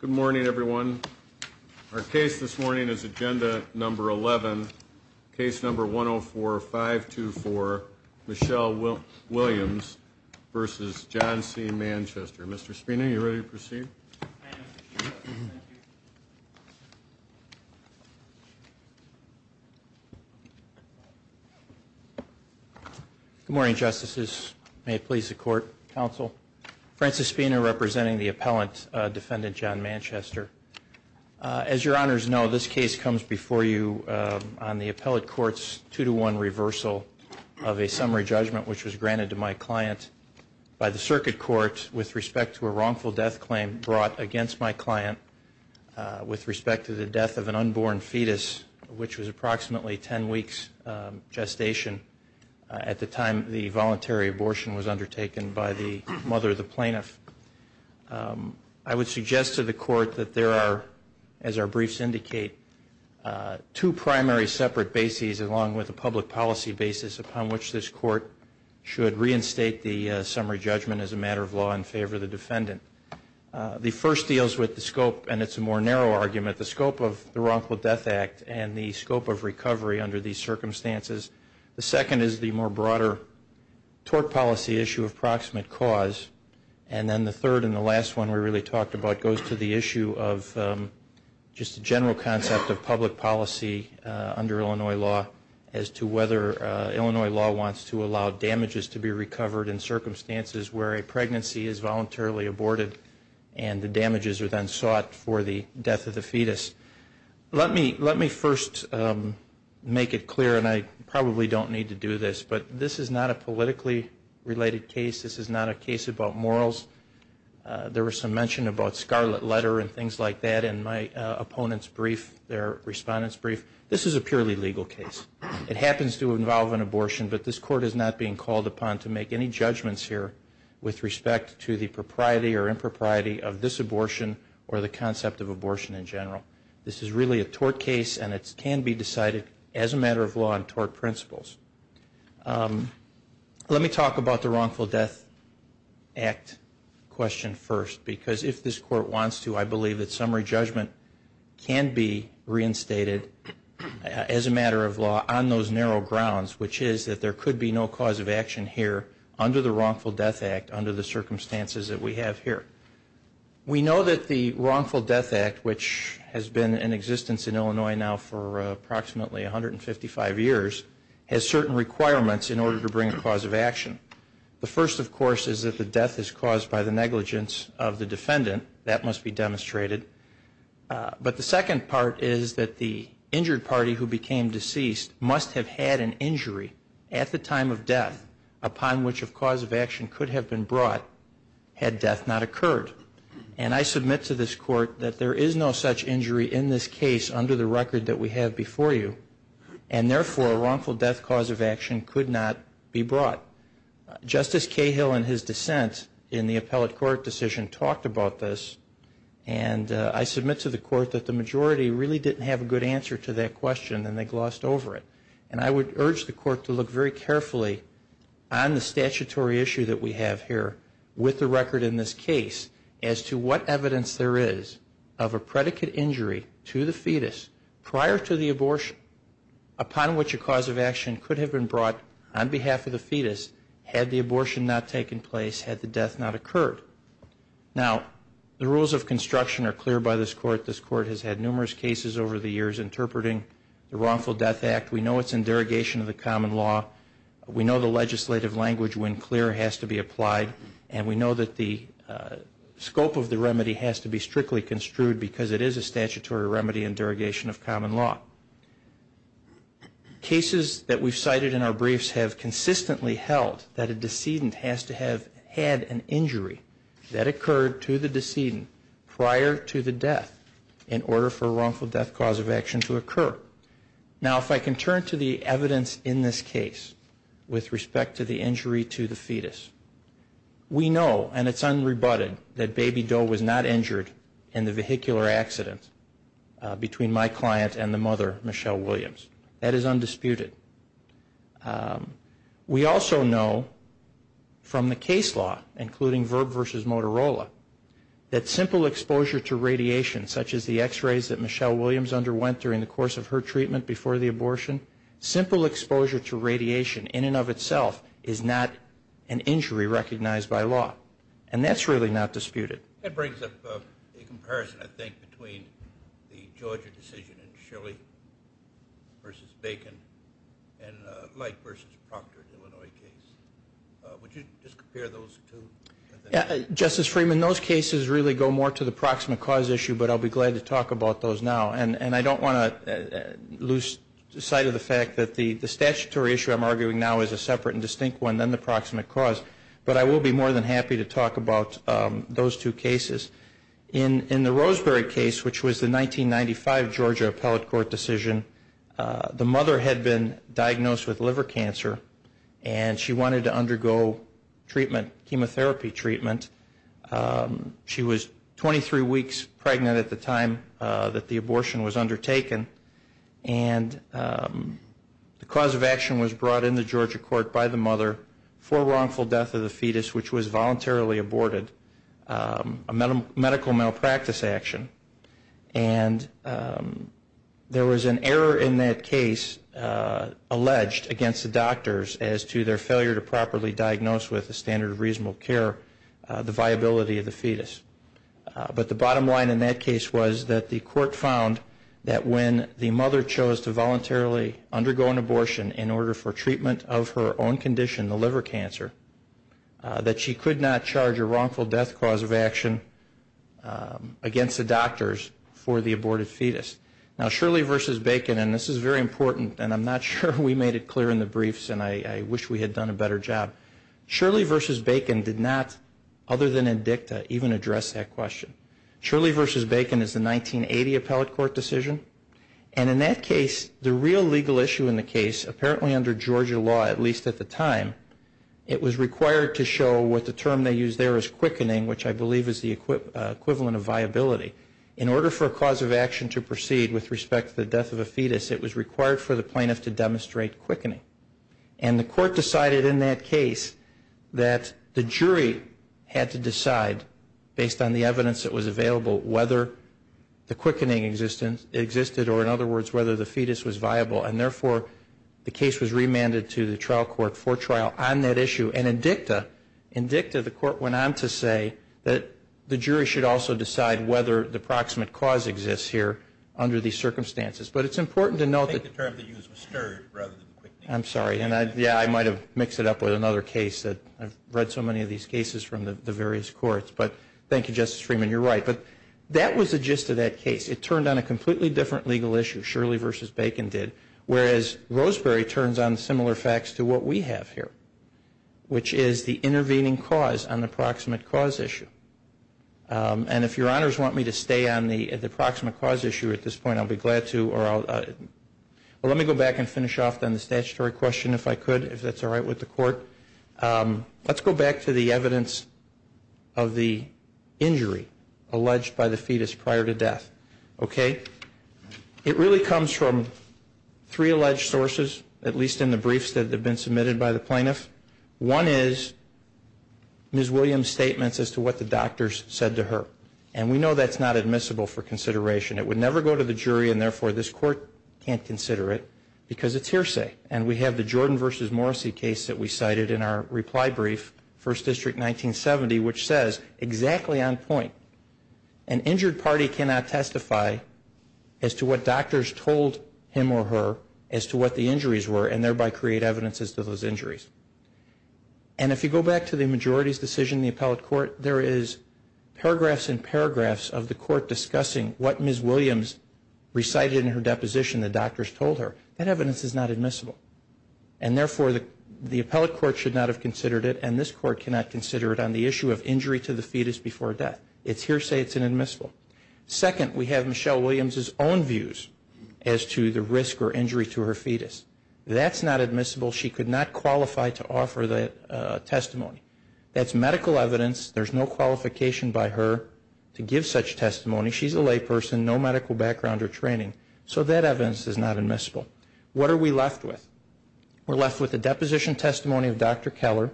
Good morning everyone. Our case this morning is agenda number 11, case number 104-524, Michelle Williams v. John C. Manchester. Mr. Spina, are you ready to proceed? Good morning, justices. May it please the court, counsel. Francis Spina, representing the appellant, defendant John Manchester. As your honors know, this case comes before you on the appellate court's two-to-one reversal of a summary judgment which was granted to my client by the circuit court with respect to a wrongful death claim brought by a defendant. This was brought against my client with respect to the death of an unborn fetus which was approximately 10 weeks gestation at the time the voluntary abortion was undertaken by the mother of the plaintiff. I would suggest to the court that there are, as our briefs indicate, two primary separate bases along with a public policy basis upon which this court should reinstate the summary judgment as a matter of law in favor of the defendant. The first deals with the scope, and it's a more narrow argument, the scope of the wrongful death act and the scope of recovery under these circumstances. The second is the more broader tort policy issue of proximate cause. And then the third and the last one we really talked about goes to the issue of just the general concept of public policy under Illinois law as to whether Illinois law wants to allow damages to be recovered in circumstances where a pregnancy is voluntarily aborted and the damages are then sought for the death of the fetus. Let me first make it clear, and I probably don't need to do this, but this is not a politically related case. This is not a case about morals. There was some mention about scarlet letter and things like that in my opponent's brief, their respondent's brief. This is a purely legal case. It happens to involve an abortion, but this court is not being called upon to make any judgments here with respect to the propriety or impropriety of this abortion or the concept of abortion in general. This is really a tort case, and it can be decided as a matter of law in tort principles. Let me talk about the wrongful death act question first, because if this court wants to, I believe that summary judgment can be reinstated as a matter of law on those narrow grounds, which is that there could be no cause of action here under the wrongful death act under the circumstances that we have here. We know that the wrongful death act, which has been in existence in Illinois now for approximately 155 years, has certain requirements in order to bring a cause of action. The first, of course, is that the death is caused by the negligence of the defendant. That must be demonstrated. But the second part is that the injured party who became deceased must have had an injury at the time of death upon which a cause of action could have been brought had death not occurred. And I submit to this court that there is no such injury in this case under the record that we have before you, and therefore a wrongful death cause of action could not be brought. Justice Cahill in his dissent in the appellate court decision talked about this, and I submit to the court that the majority really didn't have a good answer to that question, and they glossed over it. And I would urge the court to look very carefully on the statutory issue that we have here with the record in this case as to what evidence there is of a predicate injury to the fetus prior to the abortion upon which a cause of action could have been brought on behalf of the fetus had the abortion not taken place, had the death not occurred. Now, the rules of construction are clear by this court. This court has had numerous cases over the years interpreting the Wrongful Death Act. We know it's in derogation of the common law. We know the legislative language, when clear, has to be applied, and we know that the scope of the remedy has to be strictly construed because it is a statutory remedy in derogation of common law. Cases that we've cited in our briefs have consistently held that a decedent has to have had an injury that occurred to the decedent prior to the death in order for a wrongful death cause of action to occur. Now, if I can turn to the evidence in this case with respect to the injury to the fetus. We know, and it's unrebutted, that Baby Doe was not injured in the vehicular accident between my client and the mother, Michelle Williams. That is undisputed. We also know from the case law, including VIRB v. Motorola, that simple exposure to radiation, such as the x-rays that Michelle Williams underwent during the course of her life, was not an injury. Simple exposure to radiation, in and of itself, is not an injury recognized by law. And that's really not disputed. That brings up a comparison, I think, between the Georgia decision in Chile v. Bacon and the Light v. Procter in Illinois case. Would you just compare those two? Justice Freeman, those cases really go more to the proximate cause issue, but I'll be glad to talk about those now. And I don't want to lose sight of the fact that the statutory issue I'm arguing now is a separate and distinct one than the proximate cause, but I will be more than happy to talk about those two cases. In the Roseberry case, which was the 1995 Georgia appellate court decision, the mother had been diagnosed with liver cancer, and she wanted to undergo treatment, chemotherapy treatment. She was 23 weeks pregnant at the time that the abortion was undertaken, and the cause of action was brought into Georgia court by the mother for wrongful death of the fetus, which was voluntarily aborted. A medical malpractice action. And there was an error in that case alleged against the doctors as to their failure to properly diagnose with a standard of reasonable care the viability of the fetus. But the bottom line in that case was that the court found that when the mother chose to voluntarily undergo an abortion in order for treatment of her own condition, the liver cancer, that she could not charge a wrongful death of the fetus. Now, Shirley v. Bacon, and this is very important, and I'm not sure we made it clear in the briefs, and I wish we had done a better job. Shirley v. Bacon did not, other than in dicta, even address that question. Shirley v. Bacon is the 1980 appellate court decision, and in that case, the real legal issue in the case, apparently under Georgia law, at least at the time, it was required to show what the term they used there as quick and easy, and it was required to show what the term they used there as quick and easy. In order for a cause of action to proceed with respect to the death of a fetus, it was required for the plaintiff to demonstrate quickening. And the court decided in that case that the jury had to decide, based on the evidence that was available, whether the quickening existed or, in other words, whether the fetus was viable. And therefore, the case was remanded to the trial court for trial on that issue. And in dicta, in dicta, the court went on to say that the jury should also decide whether the proximate cause exists here under these circumstances. But it's important to note that the term they used was stirred rather than quickening. I'm sorry, and yeah, I might have mixed it up with another case that I've read so many of these cases from the various courts. But thank you, Justice Freeman, you're right. But that was the gist of that case. It turned on a completely different legal issue, Shirley v. Bacon did, whereas Roseberry turns on similar facts to what we have here, which is the intervening cause on the proximate cause issue. And if your honors want me to stay on the proximate cause issue at this point, I'll be glad to, or I'll, well, let me go back and finish off on the statutory question if I could, if that's all right with the court. Let's go back to the evidence of the injury alleged by the fetus prior to death, okay? It really comes from three alleged sources, at least in the briefs that have been submitted by the plaintiff. One is Ms. Williams' statements as to what the doctors said to her. And we know that's not admissible for consideration. It would never go to the jury, and therefore this court can't consider it because it's hearsay. And we have the Jordan v. Morrissey case that we cited in our reply brief, First District 1970, which says exactly on point, an injured party cannot testify as to what doctors told him or her as to what the injuries were, and thereby create evidence as to those injuries. And if you go back to the majority's decision in the appellate court, there is paragraphs and paragraphs of the court discussing what Ms. Williams recited in her deposition the doctors told her. That evidence is not admissible. And therefore the appellate court should not have considered it, and this court cannot consider it on the issue of injury to the fetus before death. It's hearsay, it's inadmissible. Second, we have Michelle Williams' own views as to the risk or injury to her fetus. That's not admissible. She could not qualify to offer that testimony. That's medical evidence. There's no qualification by her to give such testimony. She's a layperson, no medical background or training. So that evidence is not admissible. What are we left with? We're left with the deposition testimony of Dr. Keller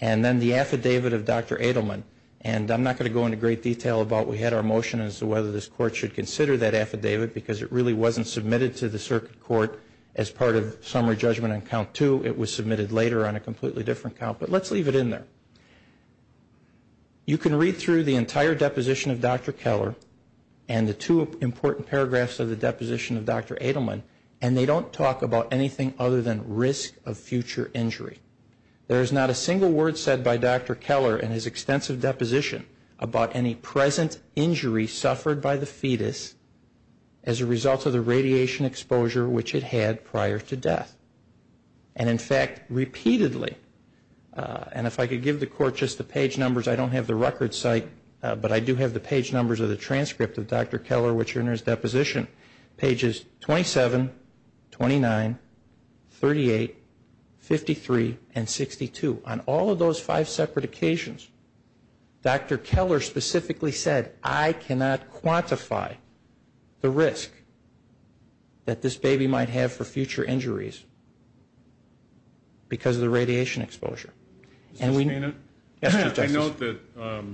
and then the affidavit of Dr. Adelman. And I'm not going to go into great detail about we had our motion as to whether this court should consider that affidavit because it really wasn't submitted to the circuit court as part of summary judgment on count two. It was submitted later on a completely different count, but let's leave it in there. You can read through the entire deposition of Dr. Keller and the two important paragraphs of the deposition of Dr. Adelman, and they don't talk about anything other than risk of future injury. There is not a single word said by Dr. Keller in his extensive deposition about any present injury suffered by the fetus as a result of the radiation exposure which it had prior to death. And in fact, repeatedly, and if I could give the court just the page numbers, I don't have the record site, but I do have the page numbers of the transcript of Dr. Keller which are in his deposition, pages 27, 29, 38, 53, and 62. On all of those five separate occasions, Dr. Keller specifically said, I cannot quantify the risk that this baby might have for future injuries because of the radiation exposure. I note that the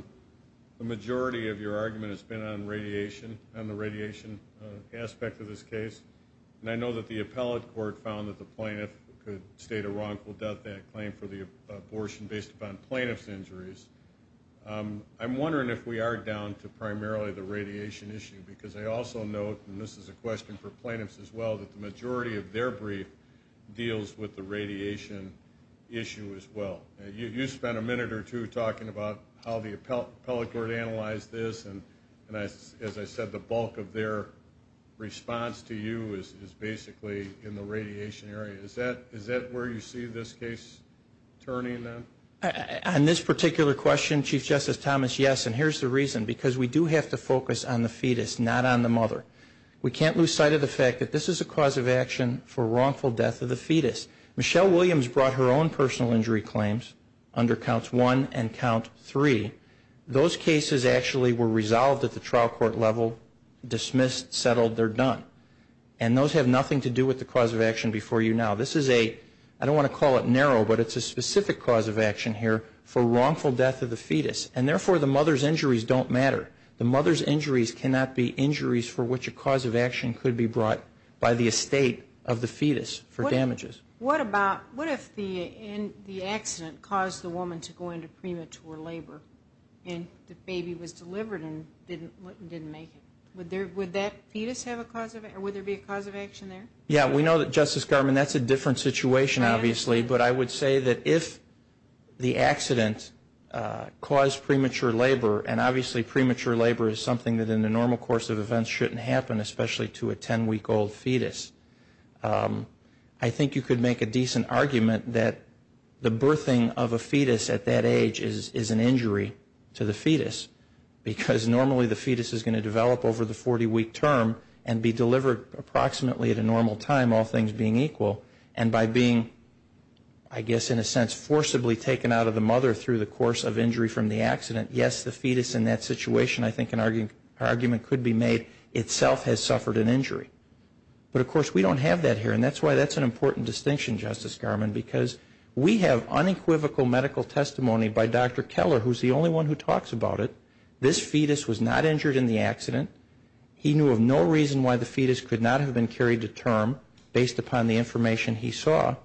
majority of your argument has been on radiation, on the radiation aspect of this case, and I know that the appellate court found that the plaintiff could state a wrongful death claim for the abortion based upon plaintiff's injuries. I'm wondering if we are down to primarily the radiation issue because I also note, and this is a question for plaintiffs as well, that the majority of their brief deals with the radiation issue as well. You spent a minute or two talking about how the appellate court analyzed this, and as I said, the bulk of their response to you is basically in the radiation area. Is that where you see this case turning then? On this particular question, Chief Justice Thomas, yes, and here's the reason. Because we do have to focus on the fetus, not on the mother. We can't lose sight of the fact that this is a cause of action for wrongful death of the fetus. Michelle Williams brought her own personal injury claims under counts one and count three. Those cases actually were resolved at the trial court level, dismissed, settled, they're done. And those have nothing to do with the cause of action before you now. I don't want to call it narrow, but it's a specific cause of action here for wrongful death of the fetus. And therefore, the mother's injuries don't matter. The mother's injuries cannot be injuries for which a cause of action could be brought by the estate of the fetus for damages. What if the accident caused the woman to go into premature labor and the baby was delivered and didn't make it? Would that fetus have a cause of action? Would there be a cause of action there? Yeah, we know that, Justice Garmon, that's a different situation, obviously. But I would say that if the accident caused premature labor, and obviously premature labor is something that in the normal course of events shouldn't happen, especially to a 10-week-old fetus, I think you could make a decent argument that the birthing of a fetus at that age is an injury to the fetus. Because normally the fetus is going to develop over the 40-week term and be delivered approximately at a normal time, all things being equal. And by being, I guess in a sense, forcibly taken out of the mother through the course of injury from the accident, yes, the fetus in that situation, I think an argument could be made, itself has suffered an injury. But of course, we don't have that here, and that's why that's an important distinction, Justice Garmon, because we have unequivocal medical testimony by Dr. Keller, who's the only one who talks about it. This fetus was not injured in the accident. He knew of no reason why the fetus could not have been carried to term based upon the information he saw.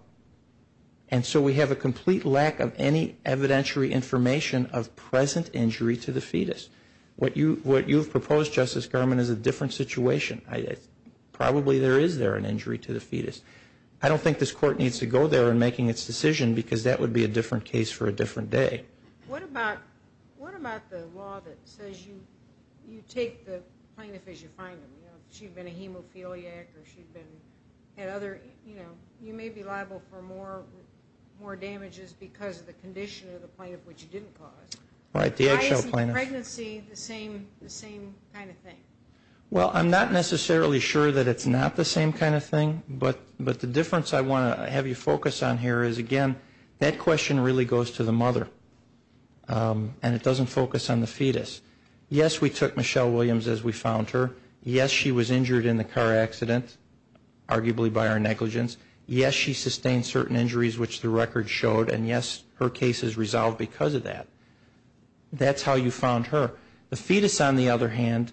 And so we have a complete lack of any evidentiary information of present injury to the fetus. What you've proposed, Justice Garmon, is a different situation. Probably there is there an injury to the fetus. I don't think this Court needs to go there in making its decision, because that would be a different case for a different day. What about the law that says you take the plaintiff as you find them? You know, she'd been a hemophiliac or she'd been at other, you know, you may be liable for more damages because of the condition of the plaintiff which you didn't cause. Why isn't pregnancy the same kind of thing? Well, I'm not necessarily sure that it's not the same kind of thing, but the difference I want to have you focus on here is, again, that question really goes to the mother. And it doesn't focus on the fetus. Yes, we took Michelle Williams as we found her. Yes, she was injured in the car accident, arguably by our negligence. Yes, she sustained certain injuries which the record showed. And yes, her case is resolved because of that. That's how you found her. The fetus, on the other hand,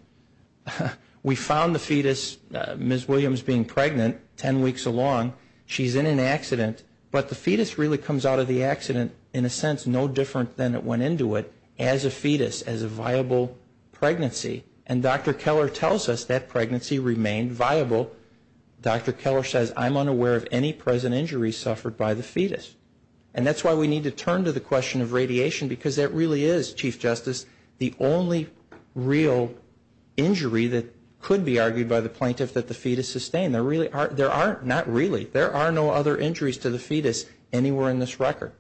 we found the fetus, Ms. Williams being pregnant, 10 weeks along. She's in an accident. But the fetus really comes out of the accident in a sense no different than it went into it as a fetus, as a viable pregnancy. And Dr. Keller tells us that pregnancy remained viable. Dr. Keller says, I'm unaware of any present injuries suffered by the fetus. And that's why we need to turn to the question of radiation because that really is, Chief Justice, the only real injury that could be argued by the plaintiff that the fetus sustained. There are no other injuries to the fetus anywhere in this record.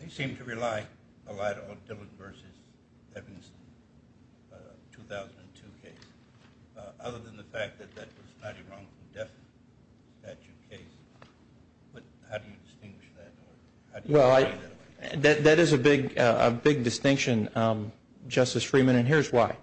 They seem to rely a lot on Dillon v. Evanston, 2002 case, other than the fact that that was not a wrongful death statute case. But how do you distinguish that? Well, that is a big distinction, Justice Freeman, and here's why.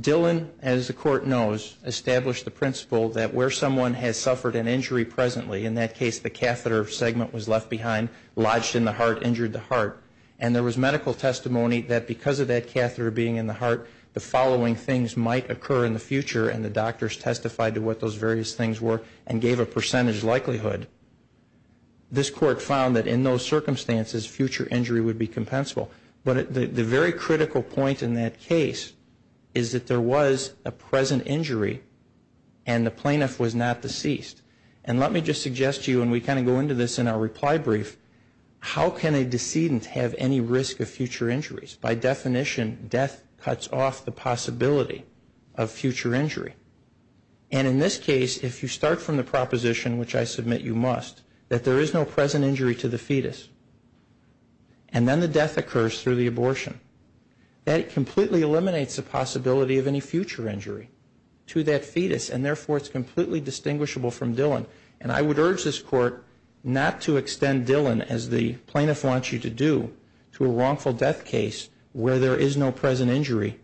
Dillon, as the Court knows, established the principle that where someone has suffered an injury presently, in that case the catheter segment was left behind, lodged in the heart, injured the heart. And there was medical testimony that because of that catheter being in the heart, the following things might occur in the future, and the doctors testified to what those various things were and gave a percentage likelihood. This Court found that in those circumstances, future injury would be compensable. But the very critical point in that case is that there was a present injury and the plaintiff was not deceased. And let me just suggest to you, and we kind of go into this in our reply brief, how can a decedent have any risk of future injuries? By definition, death cuts off the possibility of future injury. And in this case, if you start from the proposition, which I submit you must, that there is no present injury to the fetus, and then the death occurs through the abortion, that completely eliminates the possibility of any future injury to that fetus, and therefore it's completely distinguishable from Dillon. And I would urge this Court not to extend Dillon, as the plaintiff wants you to do, to a wrongful death case where there is no present injury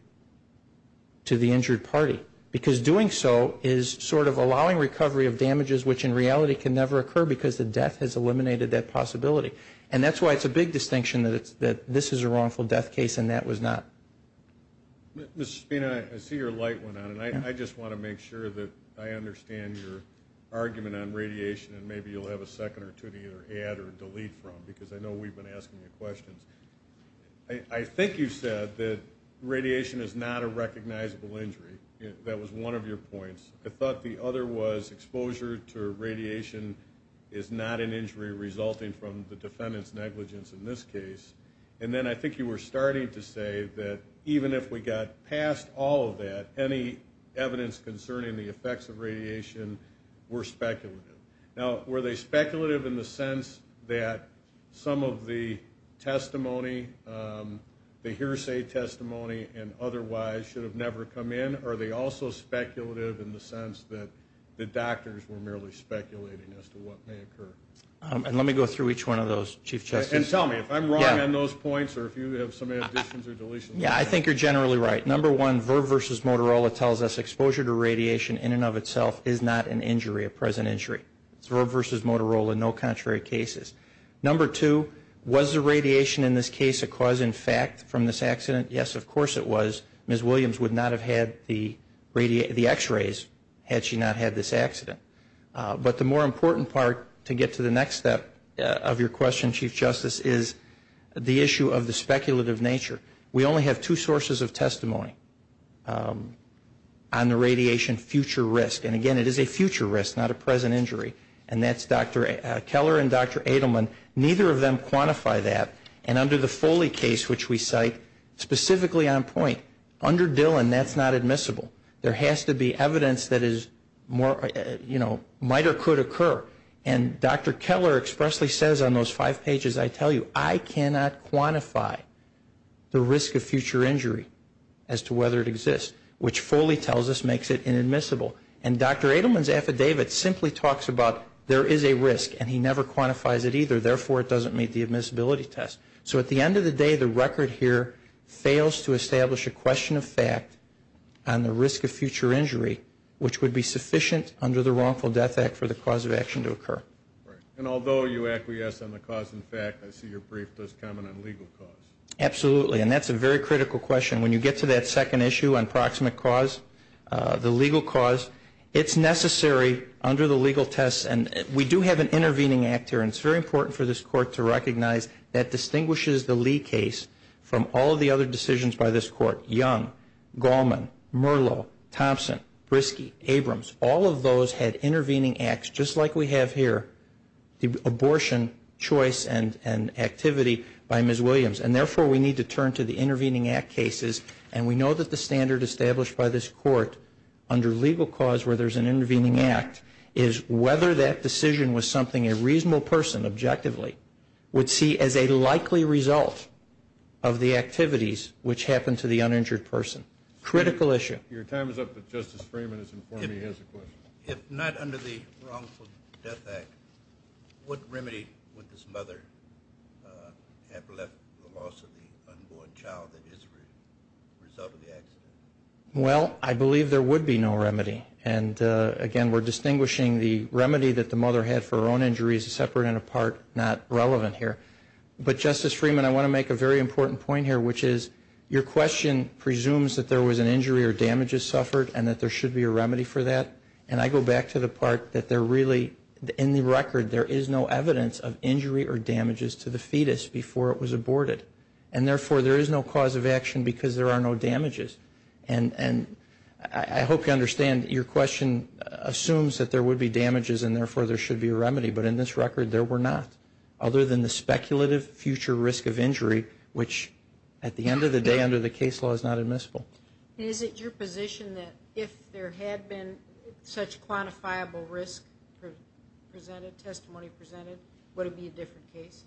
to the injured party, because doing so is sort of allowing recovery of damages which in reality can never occur because the death has eliminated that possibility. And that's why it's a big distinction that this is a wrongful death case and that was not. Mr. Spina, I see your light went on, and I just want to make sure that I understand your argument on radiation, and maybe you'll have a second or two to either add or delete from, because I know we've been asking you questions. I think you said that radiation is not a recognizable injury. That was one of your points. I thought the other was exposure to radiation is not an injury resulting from the defendant's negligence in this case. And then I think you were starting to say that even if we got past all of that, any evidence concerning the effects of radiation were speculative. Now, were they speculative in the sense that some of the testimony, the hearsay testimony, and otherwise should have never come in, or are they also speculative in the sense that the doctors were merely speculating as to what may occur? And let me go through each one of those, Chief Justice. And tell me if I'm wrong on those points or if you have some additions or deletions. Yeah, I think you're generally right. Number one, Virb v. Motorola tells us exposure to radiation in and of itself is not an injury, a present injury. It's Virb v. Motorola, no contrary cases. Number two, was the radiation in this case a cause in fact from this accident? Yes, of course it was. Ms. Williams would not have had the X-rays had she not had this accident. But the more important part to get to the next step of your question, Chief Justice, is the issue of the speculative nature. We only have two sources of testimony on the radiation future risk. And, again, it is a future risk, not a present injury. And that's Dr. Keller and Dr. Adelman. Neither of them quantify that. And under the Foley case, which we cite specifically on point, under Dillon that's not admissible. There has to be evidence that is more, you know, might or could occur. And Dr. Keller expressly says on those five pages, I tell you, I cannot quantify the risk of future injury as to whether it exists, which Foley tells us makes it inadmissible. And Dr. Adelman's affidavit simply talks about there is a risk, and he never quantifies it either. Therefore, it doesn't meet the admissibility test. So at the end of the day, the record here fails to establish a question of fact on the risk of future injury, which would be sufficient under the Wrongful Death Act for the cause of action to occur. Right. And although you acquiesce on the cause and fact, I see your brief does comment on legal cause. Absolutely. And that's a very critical question. When you get to that second issue on proximate cause, the legal cause, it's necessary under the legal test. And we do have an intervening act here. And it's very important for this Court to recognize that distinguishes the Lee case from all of the other decisions by this Court. Young, Gallman, Merlo, Thompson, Briskey, Abrams, all of those had intervening acts, just like we have here, the abortion choice and activity by Ms. Williams. And therefore, we need to turn to the intervening act cases. And we know that the standard established by this Court under legal cause where there's an intervening act is whether that decision was something a reasonable person, objectively, would see as a likely result of the activities which happened to the uninjured person. Critical issue. Your time is up, but Justice Freeman has informed me he has a question. If not under the Wrongful Death Act, what remedy would this mother have left the loss of the unborn child that is a result of the accident? Well, I believe there would be no remedy. And, again, we're distinguishing the remedy that the mother had for her own injuries separate and apart, not relevant here. But, Justice Freeman, I want to make a very important point here, which is your question presumes that there was an injury or damages suffered and that there should be a remedy for that. And I go back to the part that there really, in the record, there is no evidence of injury or damages to the fetus before it was aborted. And therefore, there is no cause of action because there are no damages. And I hope you understand your question assumes that there would be damages and, therefore, there should be a remedy. But in this record, there were not, other than the speculative future risk of injury, which at the end of the day under the case law is not admissible. Is it your position that if there had been such quantifiable risk presented, testimony presented, would it be a different case?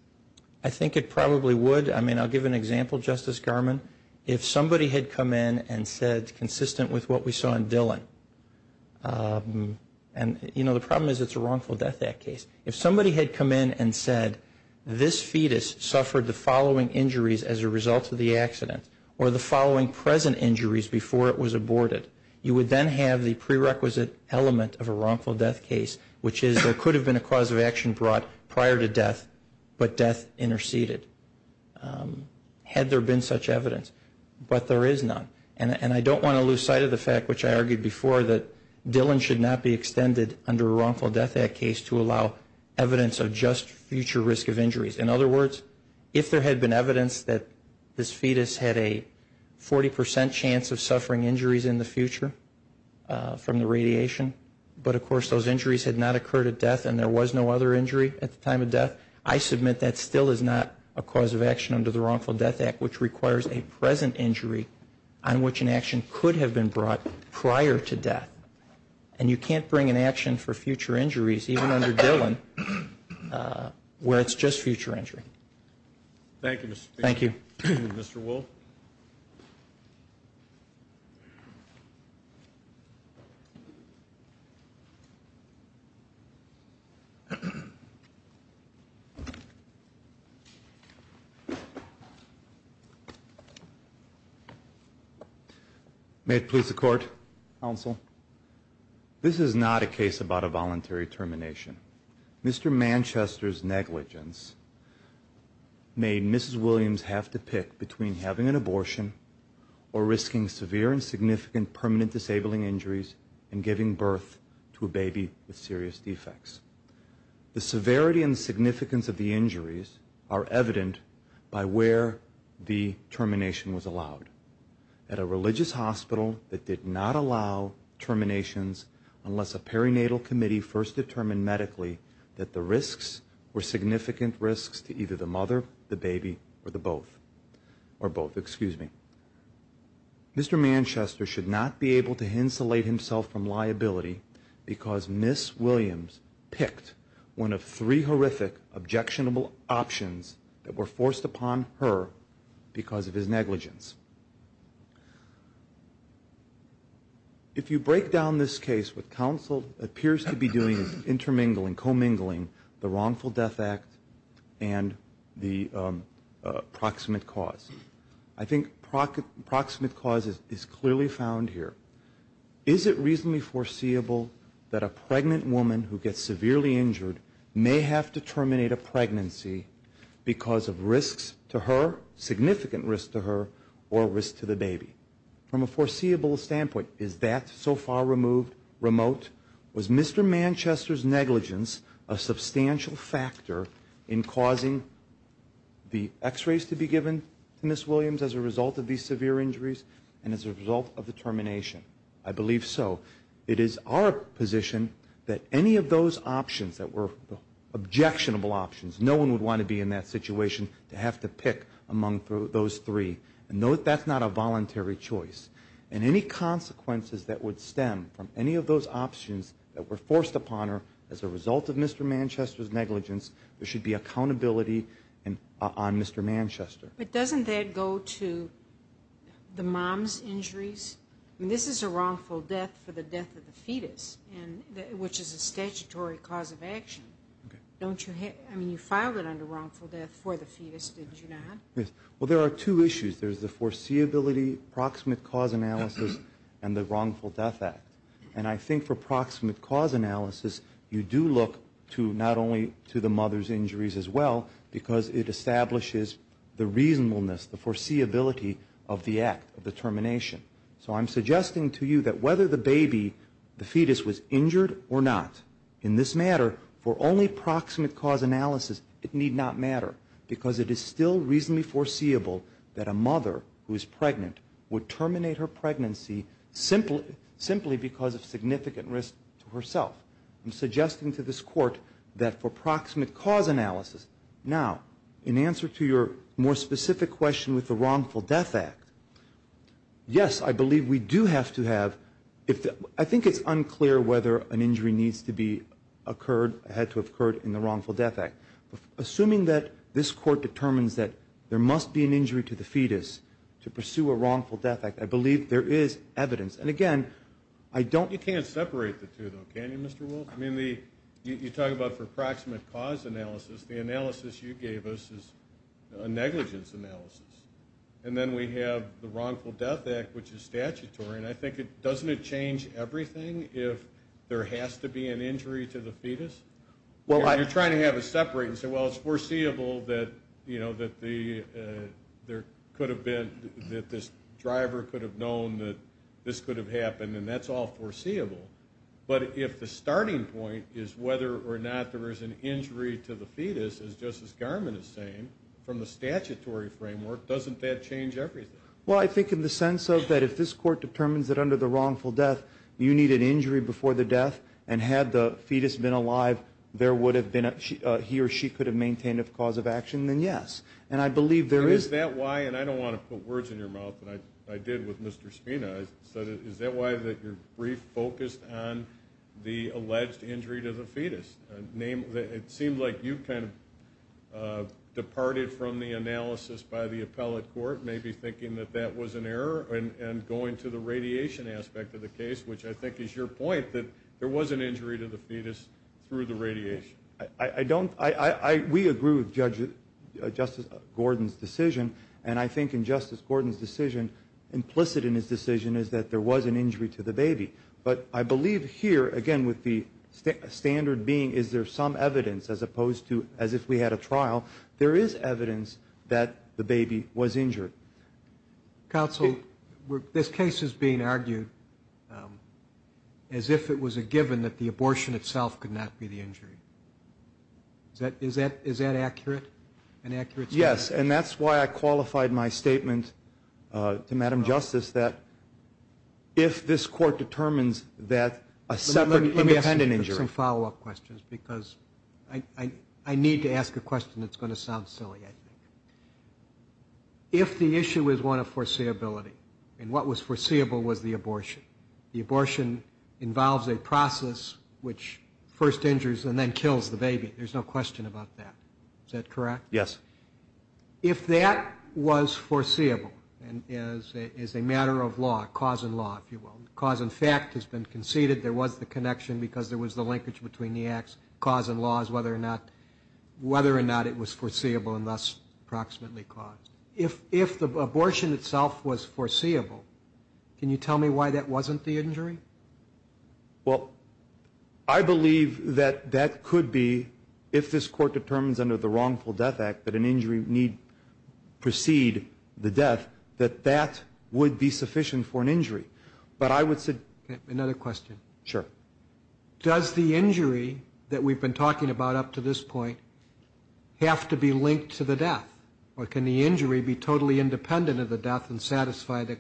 I think it probably would. I mean, I'll give an example, Justice Garmon. If somebody had come in and said, consistent with what we saw in Dillon, and, you know, the problem is it's a wrongful death act case. If somebody had come in and said, this fetus suffered the following injuries as a result of the accident or the following present injuries before it was aborted, you would then have the prerequisite element of a wrongful death case, which is there could have been a cause of action brought prior to death, but death interceded. Had there been such evidence, but there is none. And I don't want to lose sight of the fact, which I argued before, that Dillon should not be extended under a wrongful death act case to allow evidence of just future risk of injuries. In other words, if there had been evidence that this fetus had a 40% chance of suffering injuries in the future from the radiation, but, of course, those injuries had not occurred at death and there was no other injury at the time of death, I submit that still is not a cause of action under the wrongful death act, which requires a present injury on which an action could have been brought prior to death. And you can't bring an action for future injuries, even under Dillon, where it's just future injury. Thank you, Mr. Speaker. Thank you. Mr. Wool. May it please the Court, Counsel. This is not a case about a voluntary termination. Mr. Manchester's negligence made Mrs. Williams have to pick between having an abortion or risking severe and significant permanent disabling injuries and giving birth to a baby with serious defects. The severity and significance of the injuries are evident by where the termination was allowed. At a religious hospital that did not allow terminations unless a perinatal committee first determined medically that the risks were significant risks to either the mother, the baby, or both. Mr. Manchester should not be able to insulate himself from liability because Ms. Williams picked one of three horrific, objectionable options that were forced upon her because of his negligence. If you break down this case with counsel appears to be doing is intermingling, commingling the wrongful death act and the proximate cause. I think proximate cause is clearly found here. Is it reasonably foreseeable that a pregnant woman who gets severely injured may have to terminate a pregnancy because of risks to her, significant risks to her, or risks to the baby? From a foreseeable standpoint, is that so far removed, remote? Was Mr. Manchester's negligence a substantial factor in causing the x-rays to be given to Ms. Williams as a result of these severe injuries and as a result of the termination? I believe so. It is our position that any of those options that were objectionable options, no one would want to be in that situation to have to pick among those three. That's not a voluntary choice. Any consequences that would stem from any of those options that were forced upon her as a result of Mr. Manchester's negligence, there should be accountability on Mr. Manchester. But doesn't that go to the mom's injuries? This is a wrongful death for the death of the fetus, which is a statutory cause of action. I mean, you filed it under wrongful death for the fetus, did you not? Yes. Well, there are two issues. There's the foreseeability, proximate cause analysis, and the wrongful death act. And I think for proximate cause analysis, you do look not only to the mother's injuries as well because it establishes the reasonableness, the foreseeability of the act of the termination. So I'm suggesting to you that whether the baby, the fetus, was injured or not in this matter for only proximate cause analysis, it need not matter because it is still reasonably foreseeable that a mother who is pregnant would terminate her pregnancy simply because of significant risk to herself. I'm suggesting to this Court that for proximate cause analysis. Now, in answer to your more specific question with the wrongful death act, yes, I believe we do have to have I think it's unclear whether an injury needs to be occurred, had to have occurred in the wrongful death act. Assuming that this Court determines that there must be an injury to the fetus to pursue a wrongful death act, I believe there is evidence. And, again, I don't You can't separate the two, though, can you, Mr. Wolf? I mean, you talk about for proximate cause analysis. The analysis you gave us is a negligence analysis. And then we have the wrongful death act, which is statutory, and I think doesn't it change everything if there has to be an injury to the fetus? You're trying to have it separate and say, well, it's foreseeable that there could have been that this driver could have known that this could have happened, and that's all foreseeable. But if the starting point is whether or not there is an injury to the fetus, as Justice Garmon is saying, from the statutory framework, doesn't that change everything? Well, I think in the sense of that if this Court determines that under the wrongful death you need an injury before the death, and had the fetus been alive, there would have been a he or she could have maintained a cause of action, then yes. And I believe there is Is that why, and I don't want to put words in your mouth, but I did with Mr. Spina, is that why you're refocused on the alleged injury to the fetus? It seemed like you kind of departed from the analysis by the appellate court, maybe thinking that that was an error, and going to the radiation aspect of the case, which I think is your point, that there was an injury to the fetus through the radiation. We agree with Justice Gordon's decision, and I think in Justice Gordon's decision, implicit in his decision is that there was an injury to the baby. But I believe here, again, with the standard being is there some evidence, as opposed to as if we had a trial, there is evidence that the baby was injured. Counsel, this case is being argued as if it was a given that the abortion itself could not be the injury. Is that accurate? Yes, and that's why I qualified my statement to Madam Justice that if this court determines that a separate independent injury. Let me ask you some follow-up questions, because I need to ask a question that's going to sound silly, I think. If the issue is one of foreseeability, and what was foreseeable was the abortion, the abortion involves a process which first injures and then kills the baby. There's no question about that. Is that correct? Yes. If that was foreseeable as a matter of law, cause and law, if you will, cause and fact has been conceded there was the connection because there was the linkage between the acts, cause and law is whether or not it was foreseeable and thus approximately caused. If the abortion itself was foreseeable, can you tell me why that wasn't the injury? Well, I believe that that could be, if this court determines under the Wrongful Death Act that an injury need precede the death, that that would be sufficient for an injury. Another question. Sure. Does the injury that we've been talking about up to this point have to be linked to the death, or can the injury be totally independent of the death and satisfy the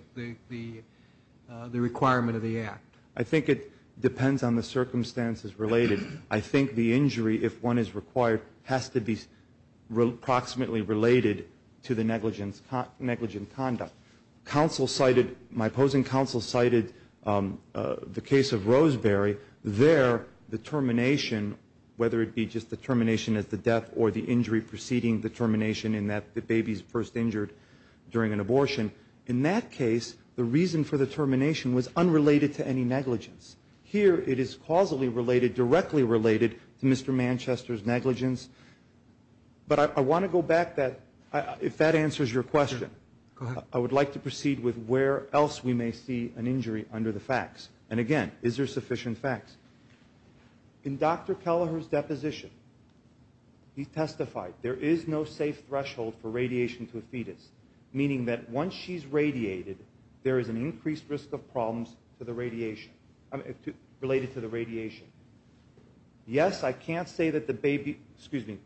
requirement of the act? I think it depends on the circumstances related. I think the injury, if one is required, has to be approximately related to the negligent conduct. My opposing counsel cited the case of Roseberry. There, the termination, whether it be just the termination at the death or the injury preceding the termination in that the baby is first injured during an abortion, in that case the reason for the termination was unrelated to any negligence. Here it is causally related, directly related to Mr. Manchester's negligence. But I want to go back that, if that answers your question. Go ahead. I would like to proceed with where else we may see an injury under the facts. And again, is there sufficient facts? In Dr. Kelleher's deposition, he testified, there is no safe threshold for radiation to a fetus, meaning that once she's radiated, there is an increased risk of problems related to the radiation. Yes, I can't say that the baby, excuse me,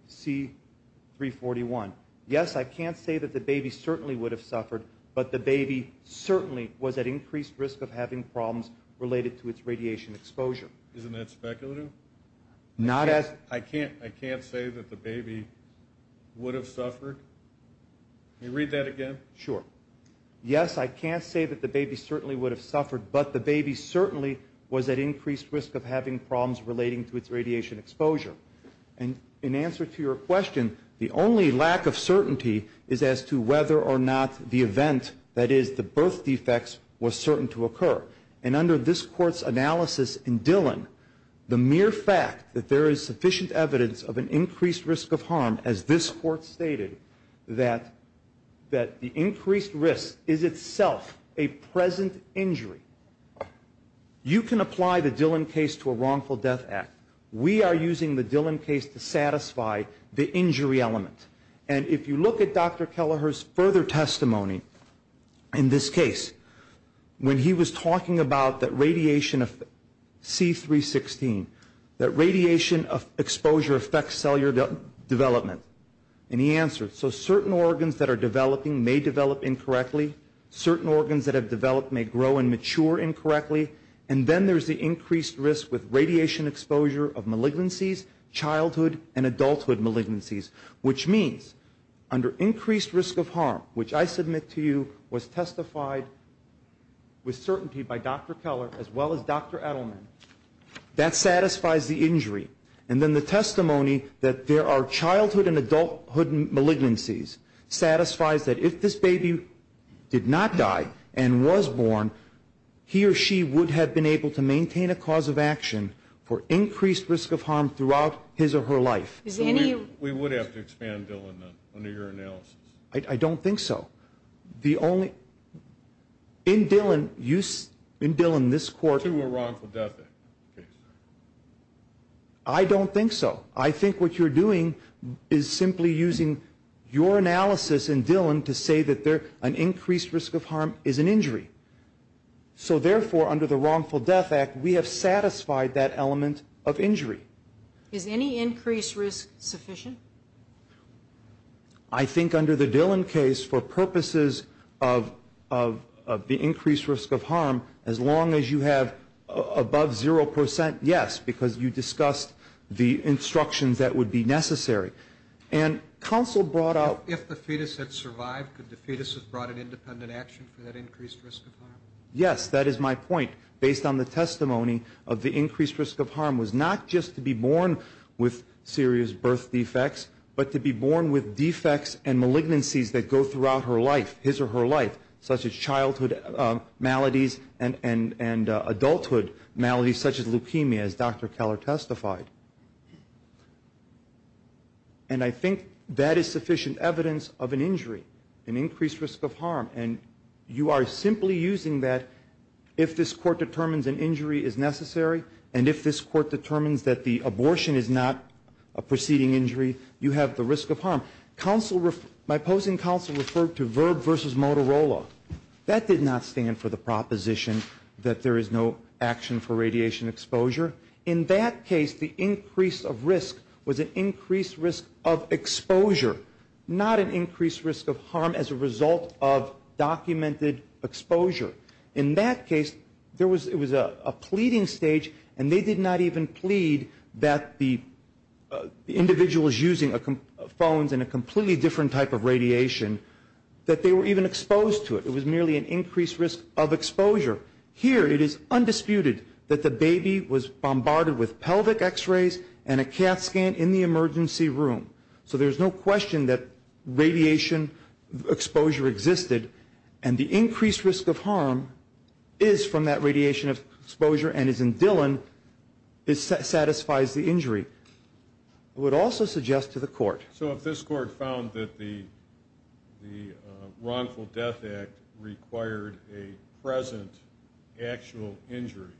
C341. Yes, I can't say that the baby certainly would have suffered, but the baby certainly was at increased risk of having problems related to its radiation exposure. Isn't that speculative? I can't say that the baby would have suffered. Can you read that again? Sure. Yes, I can't say that the baby certainly would have suffered, but the baby certainly was at increased risk of having problems relating to its radiation exposure. And in answer to your question, the only lack of certainty is as to whether or not the event, that is, the birth defects, was certain to occur. And under this Court's analysis in Dillon, the mere fact that there is sufficient evidence of an increased risk of harm, as this Court stated, that the increased risk is itself a present injury. You can apply the Dillon case to a wrongful death act. We are using the Dillon case to satisfy the injury element. And if you look at Dr. Kelleher's further testimony in this case, when he was talking about that radiation of C316, that radiation exposure affects cellular development, and he answered, so certain organs that are developing may develop incorrectly, certain organs that have developed may grow and mature incorrectly, and then there is the increased risk with radiation exposure of malignancies, childhood and adulthood malignancies, which means under increased risk of harm, which I submit to you was testified with certainty by Dr. Kelleher as well as Dr. Edelman, that satisfies the injury. And then the testimony that there are childhood and adulthood malignancies satisfies that if this baby did not die and was born, he or she would have been able to maintain a cause of action for increased risk of harm throughout his or her life. We would have to expand Dillon under your analysis. I don't think so. In Dillon, this Court to a wrongful death act. I don't think so. I think what you're doing is simply using your analysis in Dillon to say that an increased risk of harm is an injury. So therefore, under the wrongful death act, we have satisfied that element of injury. Is any increased risk sufficient? I think under the Dillon case, for purposes of the increased risk of harm, as long as you have above zero percent, yes, because you discussed the instructions that would be necessary. And counsel brought out... If the fetus had survived, could the fetus have brought an independent action for that increased risk of harm? Yes, that is my point. Based on the testimony of the increased risk of harm was not just to be born with serious birth defects, but to be born with defects and malignancies that go throughout her life, his or her life, such as childhood maladies and adulthood maladies such as leukemia, as Dr. Keller testified. And I think that is sufficient evidence of an injury, an increased risk of harm. And you are simply using that if this court determines an injury is necessary and if this court determines that the abortion is not a preceding injury, you have the risk of harm. My opposing counsel referred to VIRB versus Motorola. That did not stand for the proposition that there is no action for radiation exposure. In that case, the increase of risk was an increased risk of exposure, not an increased risk of harm as a result of documented exposure. In that case, it was a pleading stage, and they did not even plead that the individuals using phones in a completely different type of radiation, that they were even exposed to it. It was merely an increased risk of exposure. Here, it is undisputed that the baby was bombarded with pelvic x-rays and a cath scan in the emergency room. So there is no question that radiation exposure existed, and the increased risk of harm is from that radiation exposure and is in Dillon. It satisfies the injury. I would also suggest to the court. So if this court found that the wrongful death act required a present actual injury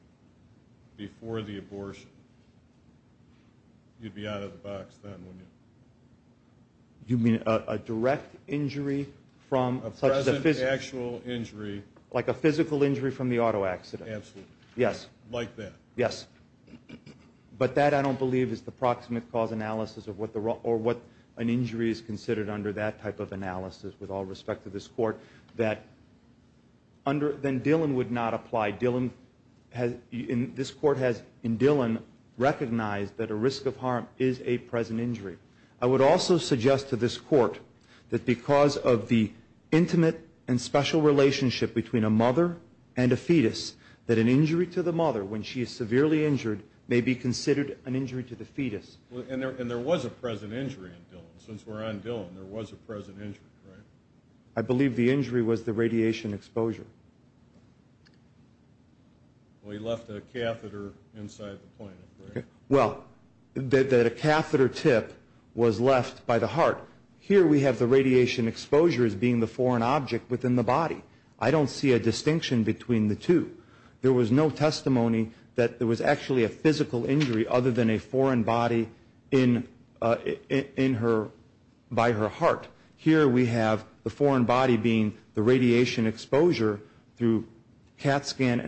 before the abortion, you'd be out of the box then, wouldn't you? You mean a direct injury from a present actual injury? Like a physical injury from the auto accident. Absolutely. Yes. Like that. Yes. But that, I don't believe, is the proximate cause analysis or what an injury is considered under that type of analysis with all respect to this court. Then Dillon would not apply. This court has, in Dillon, recognized that a risk of harm is a present injury. I would also suggest to this court that because of the intimate and special relationship between a mother and a fetus, that an injury to the mother when she is severely injured may be considered an injury to the fetus. And there was a present injury in Dillon. Since we're on Dillon, there was a present injury, right? I believe the injury was the radiation exposure. Well, he left a catheter inside the plant, right? Well, the catheter tip was left by the heart. Here we have the radiation exposure as being the foreign object within the body. I don't see a distinction between the two. There was no testimony that there was actually a physical injury other than a foreign body by her heart. Here we have the foreign body being the radiation exposure through CAT scan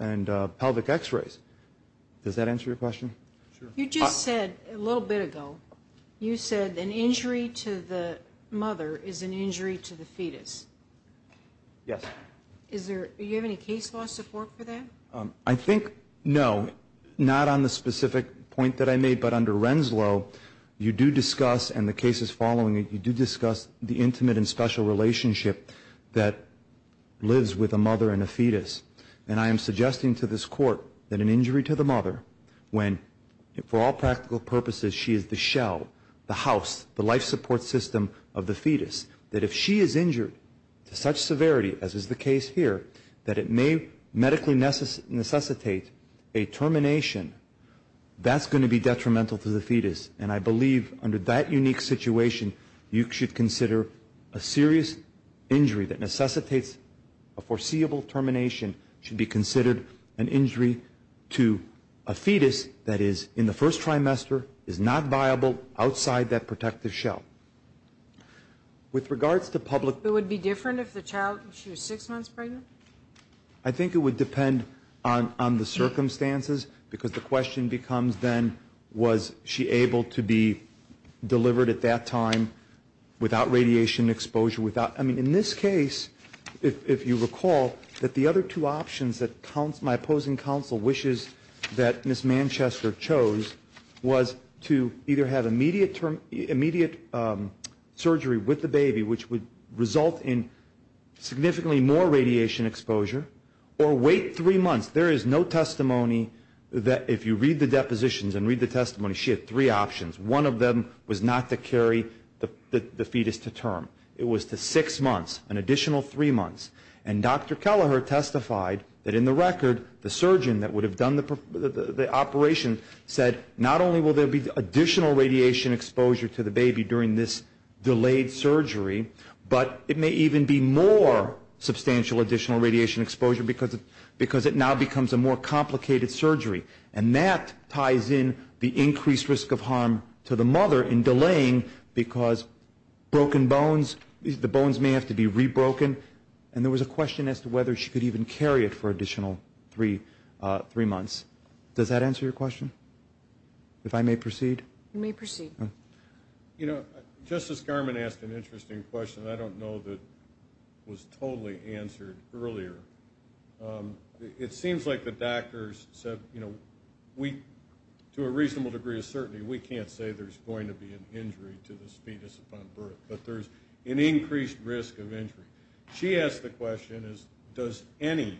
and pelvic x-rays. Does that answer your question? Sure. You just said a little bit ago, you said an injury to the mother is an injury to the fetus. Yes. Do you have any case law support for that? I think, no, not on the specific point that I made. But under Renslow, you do discuss, and the case is following it, you do discuss the intimate and special relationship that lives with a mother and a fetus. And I am suggesting to this court that an injury to the mother when, for all practical purposes, she is the shell, the house, the life support system of the fetus, that if she is injured to such severity, as is the case here, that it may medically necessitate a termination, that's going to be detrimental to the fetus. And I believe under that unique situation, you should consider a serious injury that necessitates a foreseeable termination should be considered an injury to a fetus that is, in the first trimester, is not viable outside that protective shell. With regards to public... It would be different if the child, she was six months pregnant? I think it would depend on the circumstances, because the question becomes then, was she able to be delivered at that time without radiation exposure, without... I mean, in this case, if you recall, that the other two options that my opposing counsel wishes that Ms. Manchester chose was to either have immediate surgery with the baby, which would result in significantly more radiation exposure, or wait three months. There is no testimony that, if you read the depositions and read the testimony, she had three options. One of them was not to carry the fetus to term. It was to six months, an additional three months. And Dr. Kelleher testified that, in the record, the surgeon that would have done the operation said, not only will there be additional radiation exposure to the baby during this delayed surgery, but it may even be more substantial additional radiation exposure because it now becomes a more complicated surgery. And that ties in the increased risk of harm to the mother in delaying, because broken bones, the bones may have to be re-broken. And there was a question as to whether she could even carry it for additional three months. Does that answer your question? If I may proceed? You may proceed. You know, Justice Garmon asked an interesting question that I don't know that was totally answered earlier. It seems like the doctors said, you know, to a reasonable degree of certainty, we can't say there's going to be an injury to the fetus upon birth, but there's an increased risk of injury. She asked the question, does any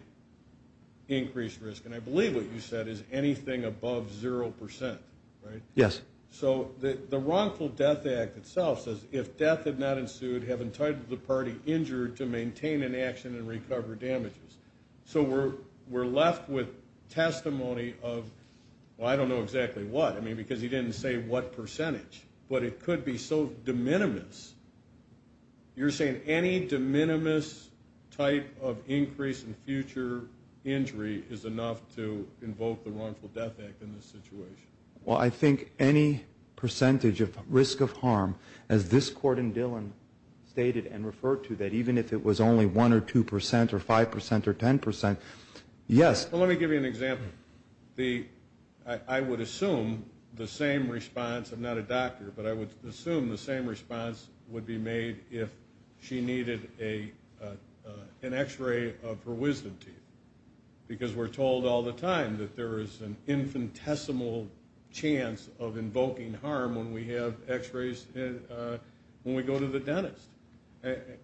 increased risk, and I believe what you said is anything above zero percent, right? Yes. So the Wrongful Death Act itself says if death had not ensued, have entitled the party injured to maintain inaction and recover damages. So we're left with testimony of, well, I don't know exactly what, I mean because he didn't say what percentage, but it could be so de minimis. You're saying any de minimis type of increase in future injury is enough to invoke the Wrongful Death Act in this situation? Well, I think any percentage of risk of harm, as this court in Dillon stated and referred to, that even if it was only one or two percent or five percent or ten percent, yes. Well, let me give you an example. I would assume the same response, I'm not a doctor, but I would assume the same response would be made if she needed an X-ray of her wisdom teeth because we're told all the time that there is an infinitesimal chance of invoking harm when we have X-rays when we go to the dentist.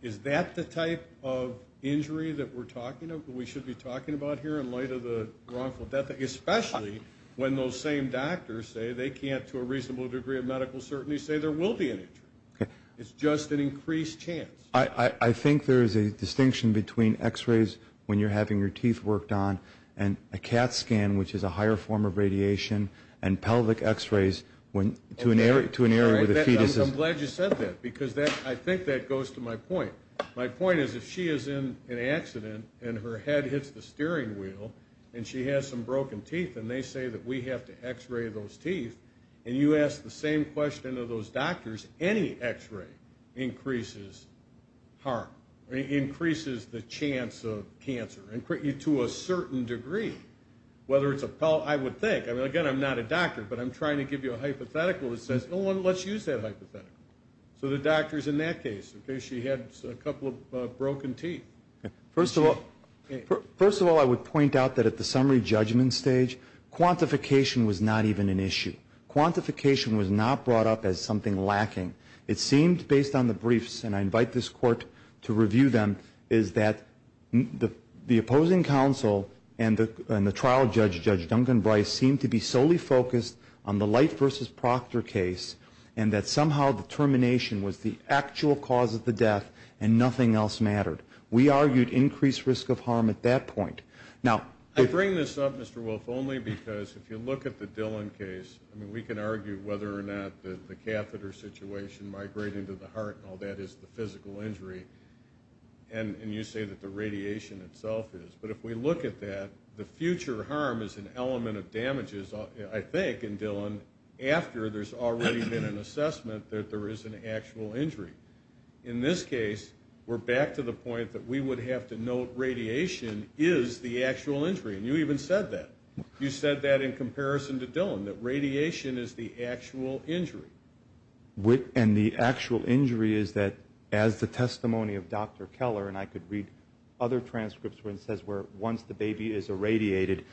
Is that the type of injury that we're talking about, that we should be talking about here in light of the Wrongful Death Act, especially when those same doctors say they can't, to a reasonable degree of medical certainty, say there will be an injury. It's just an increased chance. I think there is a distinction between X-rays when you're having your teeth worked on and a CAT scan, which is a higher form of radiation, and pelvic X-rays to an area where the fetus is. I'm glad you said that because I think that goes to my point. My point is if she is in an accident and her head hits the steering wheel and she has some broken teeth and they say that we have to X-ray those teeth and you ask the same question to those doctors, any X-ray increases harm, increases the chance of cancer to a certain degree. Whether it's a pelvic, I would think. Again, I'm not a doctor, but I'm trying to give you a hypothetical that says, let's use that hypothetical. So the doctor is in that case. She has a couple of broken teeth. First of all, I would point out that at the summary judgment stage, quantification was not even an issue. Quantification was not brought up as something lacking. It seemed, based on the briefs, and I invite this court to review them, is that the opposing counsel and the trial judge, Judge Duncan Bryce, seemed to be solely focused on the Light v. Proctor case and that somehow the termination was the actual cause of the death and nothing else mattered. We argued increased risk of harm at that point. I bring this up, Mr. Wolf, only because if you look at the Dillon case, I mean, we can argue whether or not the catheter situation, migrating to the heart and all that, is the physical injury, and you say that the radiation itself is. But if we look at that, the future harm is an element of damages, I think, in Dillon after there's already been an assessment that there is an actual injury. In this case, we're back to the point that we would have to note radiation is the actual injury, and you even said that. You said that in comparison to Dillon, that radiation is the actual injury. And the actual injury is that, as the testimony of Dr. Keller, and I could read other transcripts where it says where once the baby is irradiated,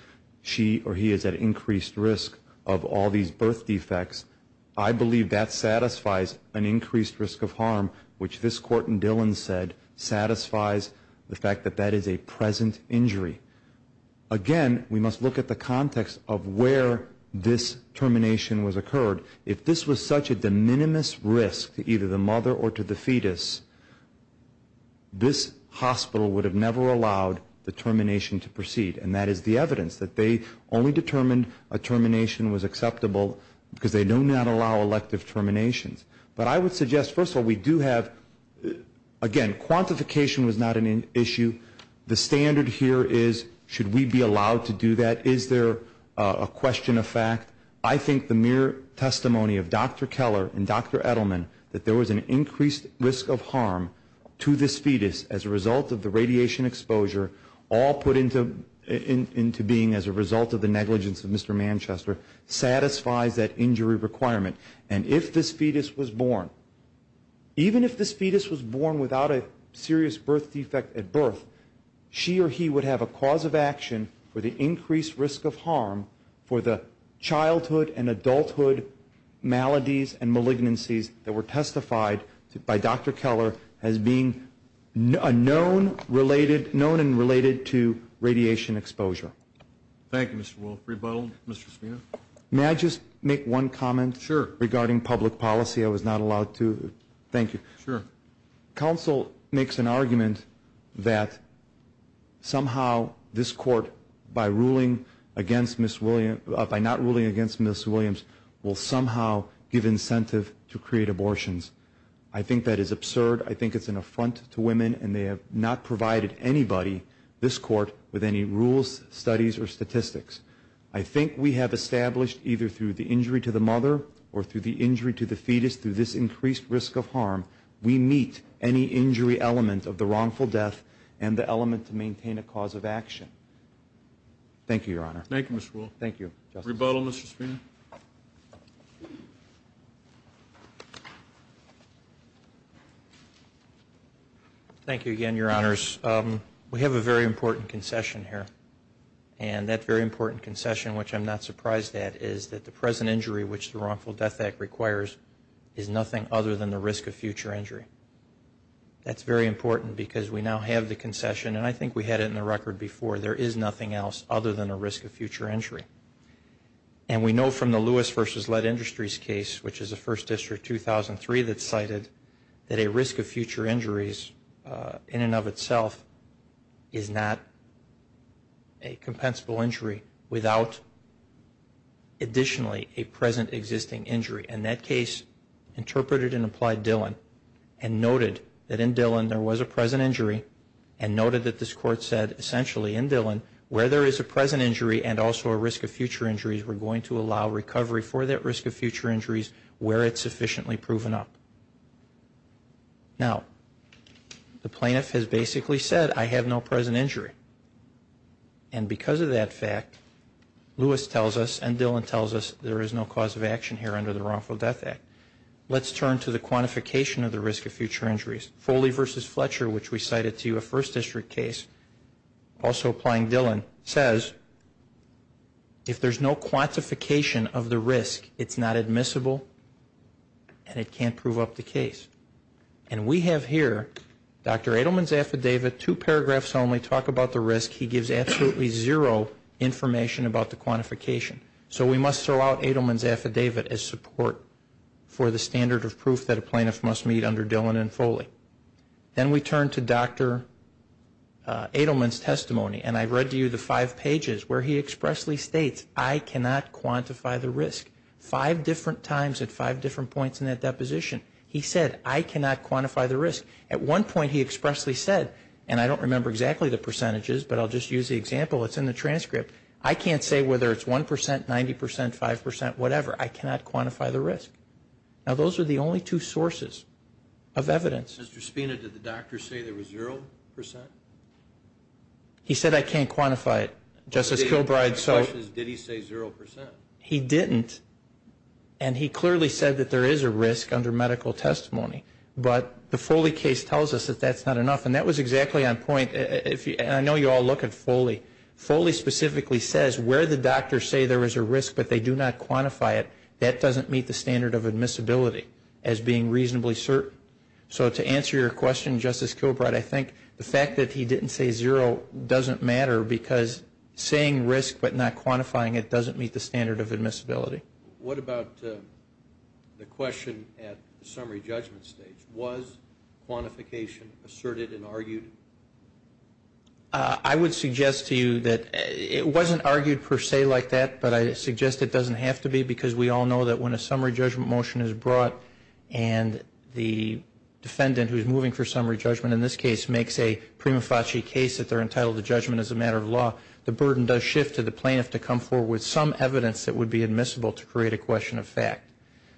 she or he is at increased risk of all these birth defects. I believe that satisfies an increased risk of harm, which this court in Dillon said satisfies the fact that that is a present injury. Again, we must look at the context of where this termination was occurred. If this was such a de minimis risk to either the mother or to the fetus, this hospital would have never allowed the termination to proceed, and that is the evidence that they only determined a termination was acceptable because they do not allow elective terminations. But I would suggest, first of all, we do have, again, quantification was not an issue. The standard here is should we be allowed to do that? Is there a question of fact? I think the mere testimony of Dr. Keller and Dr. Edelman that there was an increased risk of harm to this fetus as a result of the radiation exposure all put into being as a result of the negligence of Mr. Manchester, satisfies that injury requirement. And if this fetus was born, even if this fetus was born without a serious birth defect at birth, she or he would have a cause of action for the increased risk of harm for the childhood and adulthood maladies and malignancies that were testified by Dr. Keller as being known and related to radiation exposure. Thank you, Mr. Wolf. Rebuttal, Mr. Spina? May I just make one comment regarding public policy? I was not allowed to. Thank you. Sure. Counsel makes an argument that somehow this court, by not ruling against Ms. Williams, will somehow give incentive to create abortions. I think that is absurd. I think it's an affront to women, and they have not provided anybody, this court, with any rules, studies, or statistics. I think we have established either through the injury to the mother or through the injury to the fetus through this increased risk of harm, we meet any injury element of the wrongful death and the element to maintain a cause of action. Thank you, Your Honor. Thank you, Mr. Wolf. Thank you, Justice. Rebuttal, Mr. Spina? Thank you again, Your Honors. We have a very important concession here, and that very important concession, which I'm not surprised at, is that the present injury, which the Wrongful Death Act requires, is nothing other than the risk of future injury. That's very important because we now have the concession, and I think we had it in the record before. There is nothing else other than the risk of future injury. And we know from the Lewis v. Lead Industries case, which is a First District 2003, that cited that a risk of future injuries in and of itself is not a compensable injury without additionally a present existing injury. And that case interpreted and applied Dillon and noted that in Dillon there was a present injury and noted that this Court said essentially in Dillon where there is a present injury and also a risk of future injuries, we're going to allow recovery for that risk of future injuries where it's sufficiently proven up. Now, the plaintiff has basically said I have no present injury. And because of that fact, Lewis tells us and Dillon tells us there is no cause of action here under the Wrongful Death Act. Let's turn to the quantification of the risk of future injuries. Foley v. Fletcher, which we cited to you, a First District case, also applying Dillon, says if there's no quantification of the risk, it's not admissible and it can't prove up the case. And we have here Dr. Edelman's affidavit, two paragraphs only, talk about the risk. He gives absolutely zero information about the quantification. So we must throw out Edelman's affidavit as support for the standard of proof Then we turn to Dr. Edelman's testimony. And I read to you the five pages where he expressly states I cannot quantify the risk. Five different times at five different points in that deposition, he said I cannot quantify the risk. At one point he expressly said, and I don't remember exactly the percentages, but I'll just use the example that's in the transcript, I can't say whether it's 1 percent, 90 percent, 5 percent, whatever. I cannot quantify the risk. Now those are the only two sources of evidence. Mr. Spina, did the doctor say there was 0 percent? He said I can't quantify it, Justice Kilbride. My question is, did he say 0 percent? He didn't. And he clearly said that there is a risk under medical testimony. But the Foley case tells us that that's not enough. And that was exactly on point. And I know you all look at Foley. Foley specifically says where the doctors say there is a risk but they do not quantify it, that doesn't meet the standard of admissibility as being reasonably certain. So to answer your question, Justice Kilbride, I think the fact that he didn't say 0 doesn't matter because saying risk but not quantifying it doesn't meet the standard of admissibility. What about the question at the summary judgment stage? Was quantification asserted and argued? I would suggest to you that it wasn't argued per se like that, but I suggest it doesn't have to be because we all know that when a summary judgment motion is brought and the defendant who is moving for summary judgment in this case makes a prima facie case that they're entitled to judgment as a matter of law, the burden does shift to the plaintiff to come forward with some evidence that would be admissible to create a question of fact.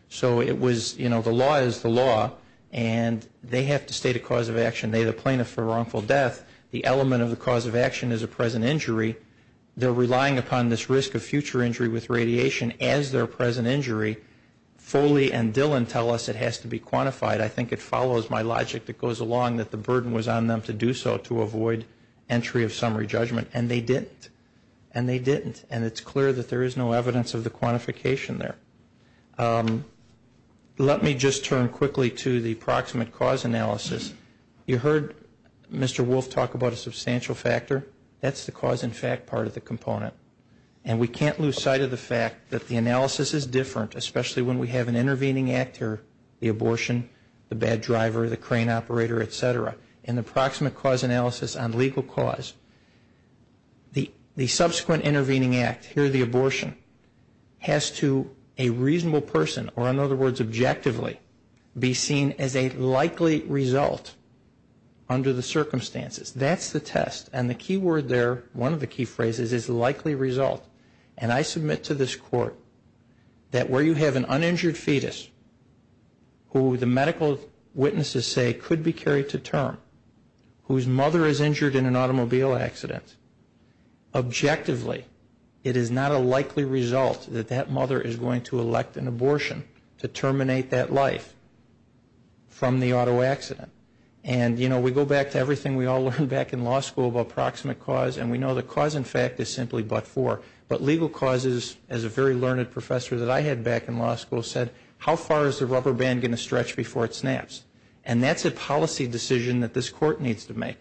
So it was, you know, the law is the law, and they have to state a cause of action. They are the plaintiff for a wrongful death. The element of the cause of action is a present injury. They're relying upon this risk of future injury with radiation as their present injury. Foley and Dillon tell us it has to be quantified. I think it follows my logic that goes along that the burden was on them to do so to avoid entry of summary judgment, and they didn't, and they didn't, and it's clear that there is no evidence of the quantification there. Let me just turn quickly to the proximate cause analysis. You heard Mr. Wolf talk about a substantial factor. That's the cause and fact part of the component, and we can't lose sight of the fact that the analysis is different, especially when we have an intervening actor, the abortion, the bad driver, the crane operator, et cetera. In the proximate cause analysis on legal cause, the subsequent intervening act, here the abortion, has to a reasonable person, or in other words objectively, be seen as a likely result under the circumstances. That's the test, and the key word there, one of the key phrases is likely result, and I submit to this court that where you have an uninjured fetus who the medical witnesses say could be carried to term, whose mother is injured in an automobile accident, objectively it is not a likely result that that mother is going to elect an abortion to terminate that life from the auto accident. And, you know, we go back to everything we all learned back in law school about proximate cause, and we know the cause and fact is simply but for. But legal cause is, as a very learned professor that I had back in law school said, how far is the rubber band going to stretch before it snaps? And that's a policy decision that this court needs to make.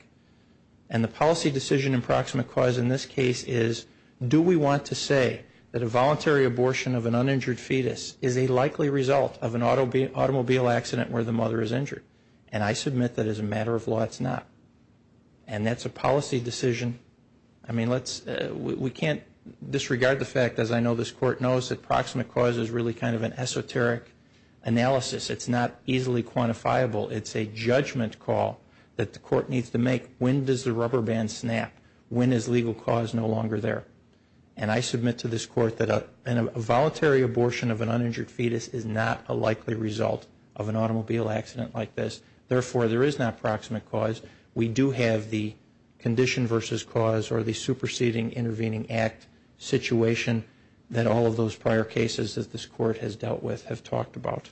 And the policy decision in proximate cause in this case is, do we want to say that a voluntary abortion of an uninjured fetus is a likely result of an automobile accident where the mother is injured? And I submit that as a matter of law it's not. And that's a policy decision. I mean, we can't disregard the fact, as I know this court knows, that proximate cause is really kind of an esoteric analysis. It's not easily quantifiable. It's a judgment call that the court needs to make. When does the rubber band snap? When is legal cause no longer there? And I submit to this court that a voluntary abortion of an uninjured fetus is not a likely result of an automobile accident like this. Therefore, there is not proximate cause. We do have the condition versus cause or the superseding intervening act situation that all of those prior cases that this court has dealt with have talked about.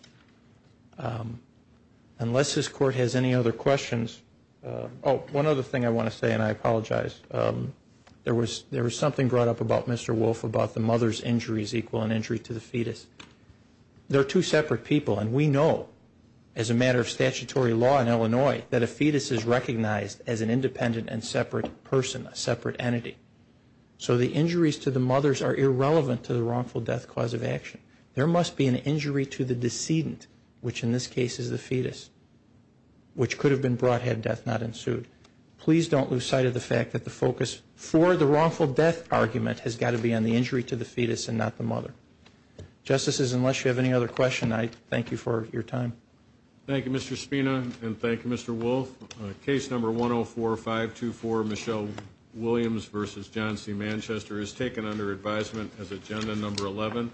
Unless this court has any other questions. Oh, one other thing I want to say, and I apologize. There was something brought up about Mr. Wolf about the mother's injuries equal an injury to the fetus. They're two separate people, and we know, as a matter of statutory law in Illinois, that a fetus is recognized as an independent and separate person, a separate entity. So the injuries to the mothers are irrelevant to the wrongful death cause of action. There must be an injury to the decedent, which in this case is the fetus, which could have been brought had death not ensued. Please don't lose sight of the fact that the focus for the wrongful death argument has got to be on the injury to the fetus and not the mother. Justices, unless you have any other questions, I thank you for your time. Thank you, Mr. Spina, and thank you, Mr. Wolf. Case number 104-524, Michelle Williams v. John C. Manchester, is taken under advisement as agenda number 11.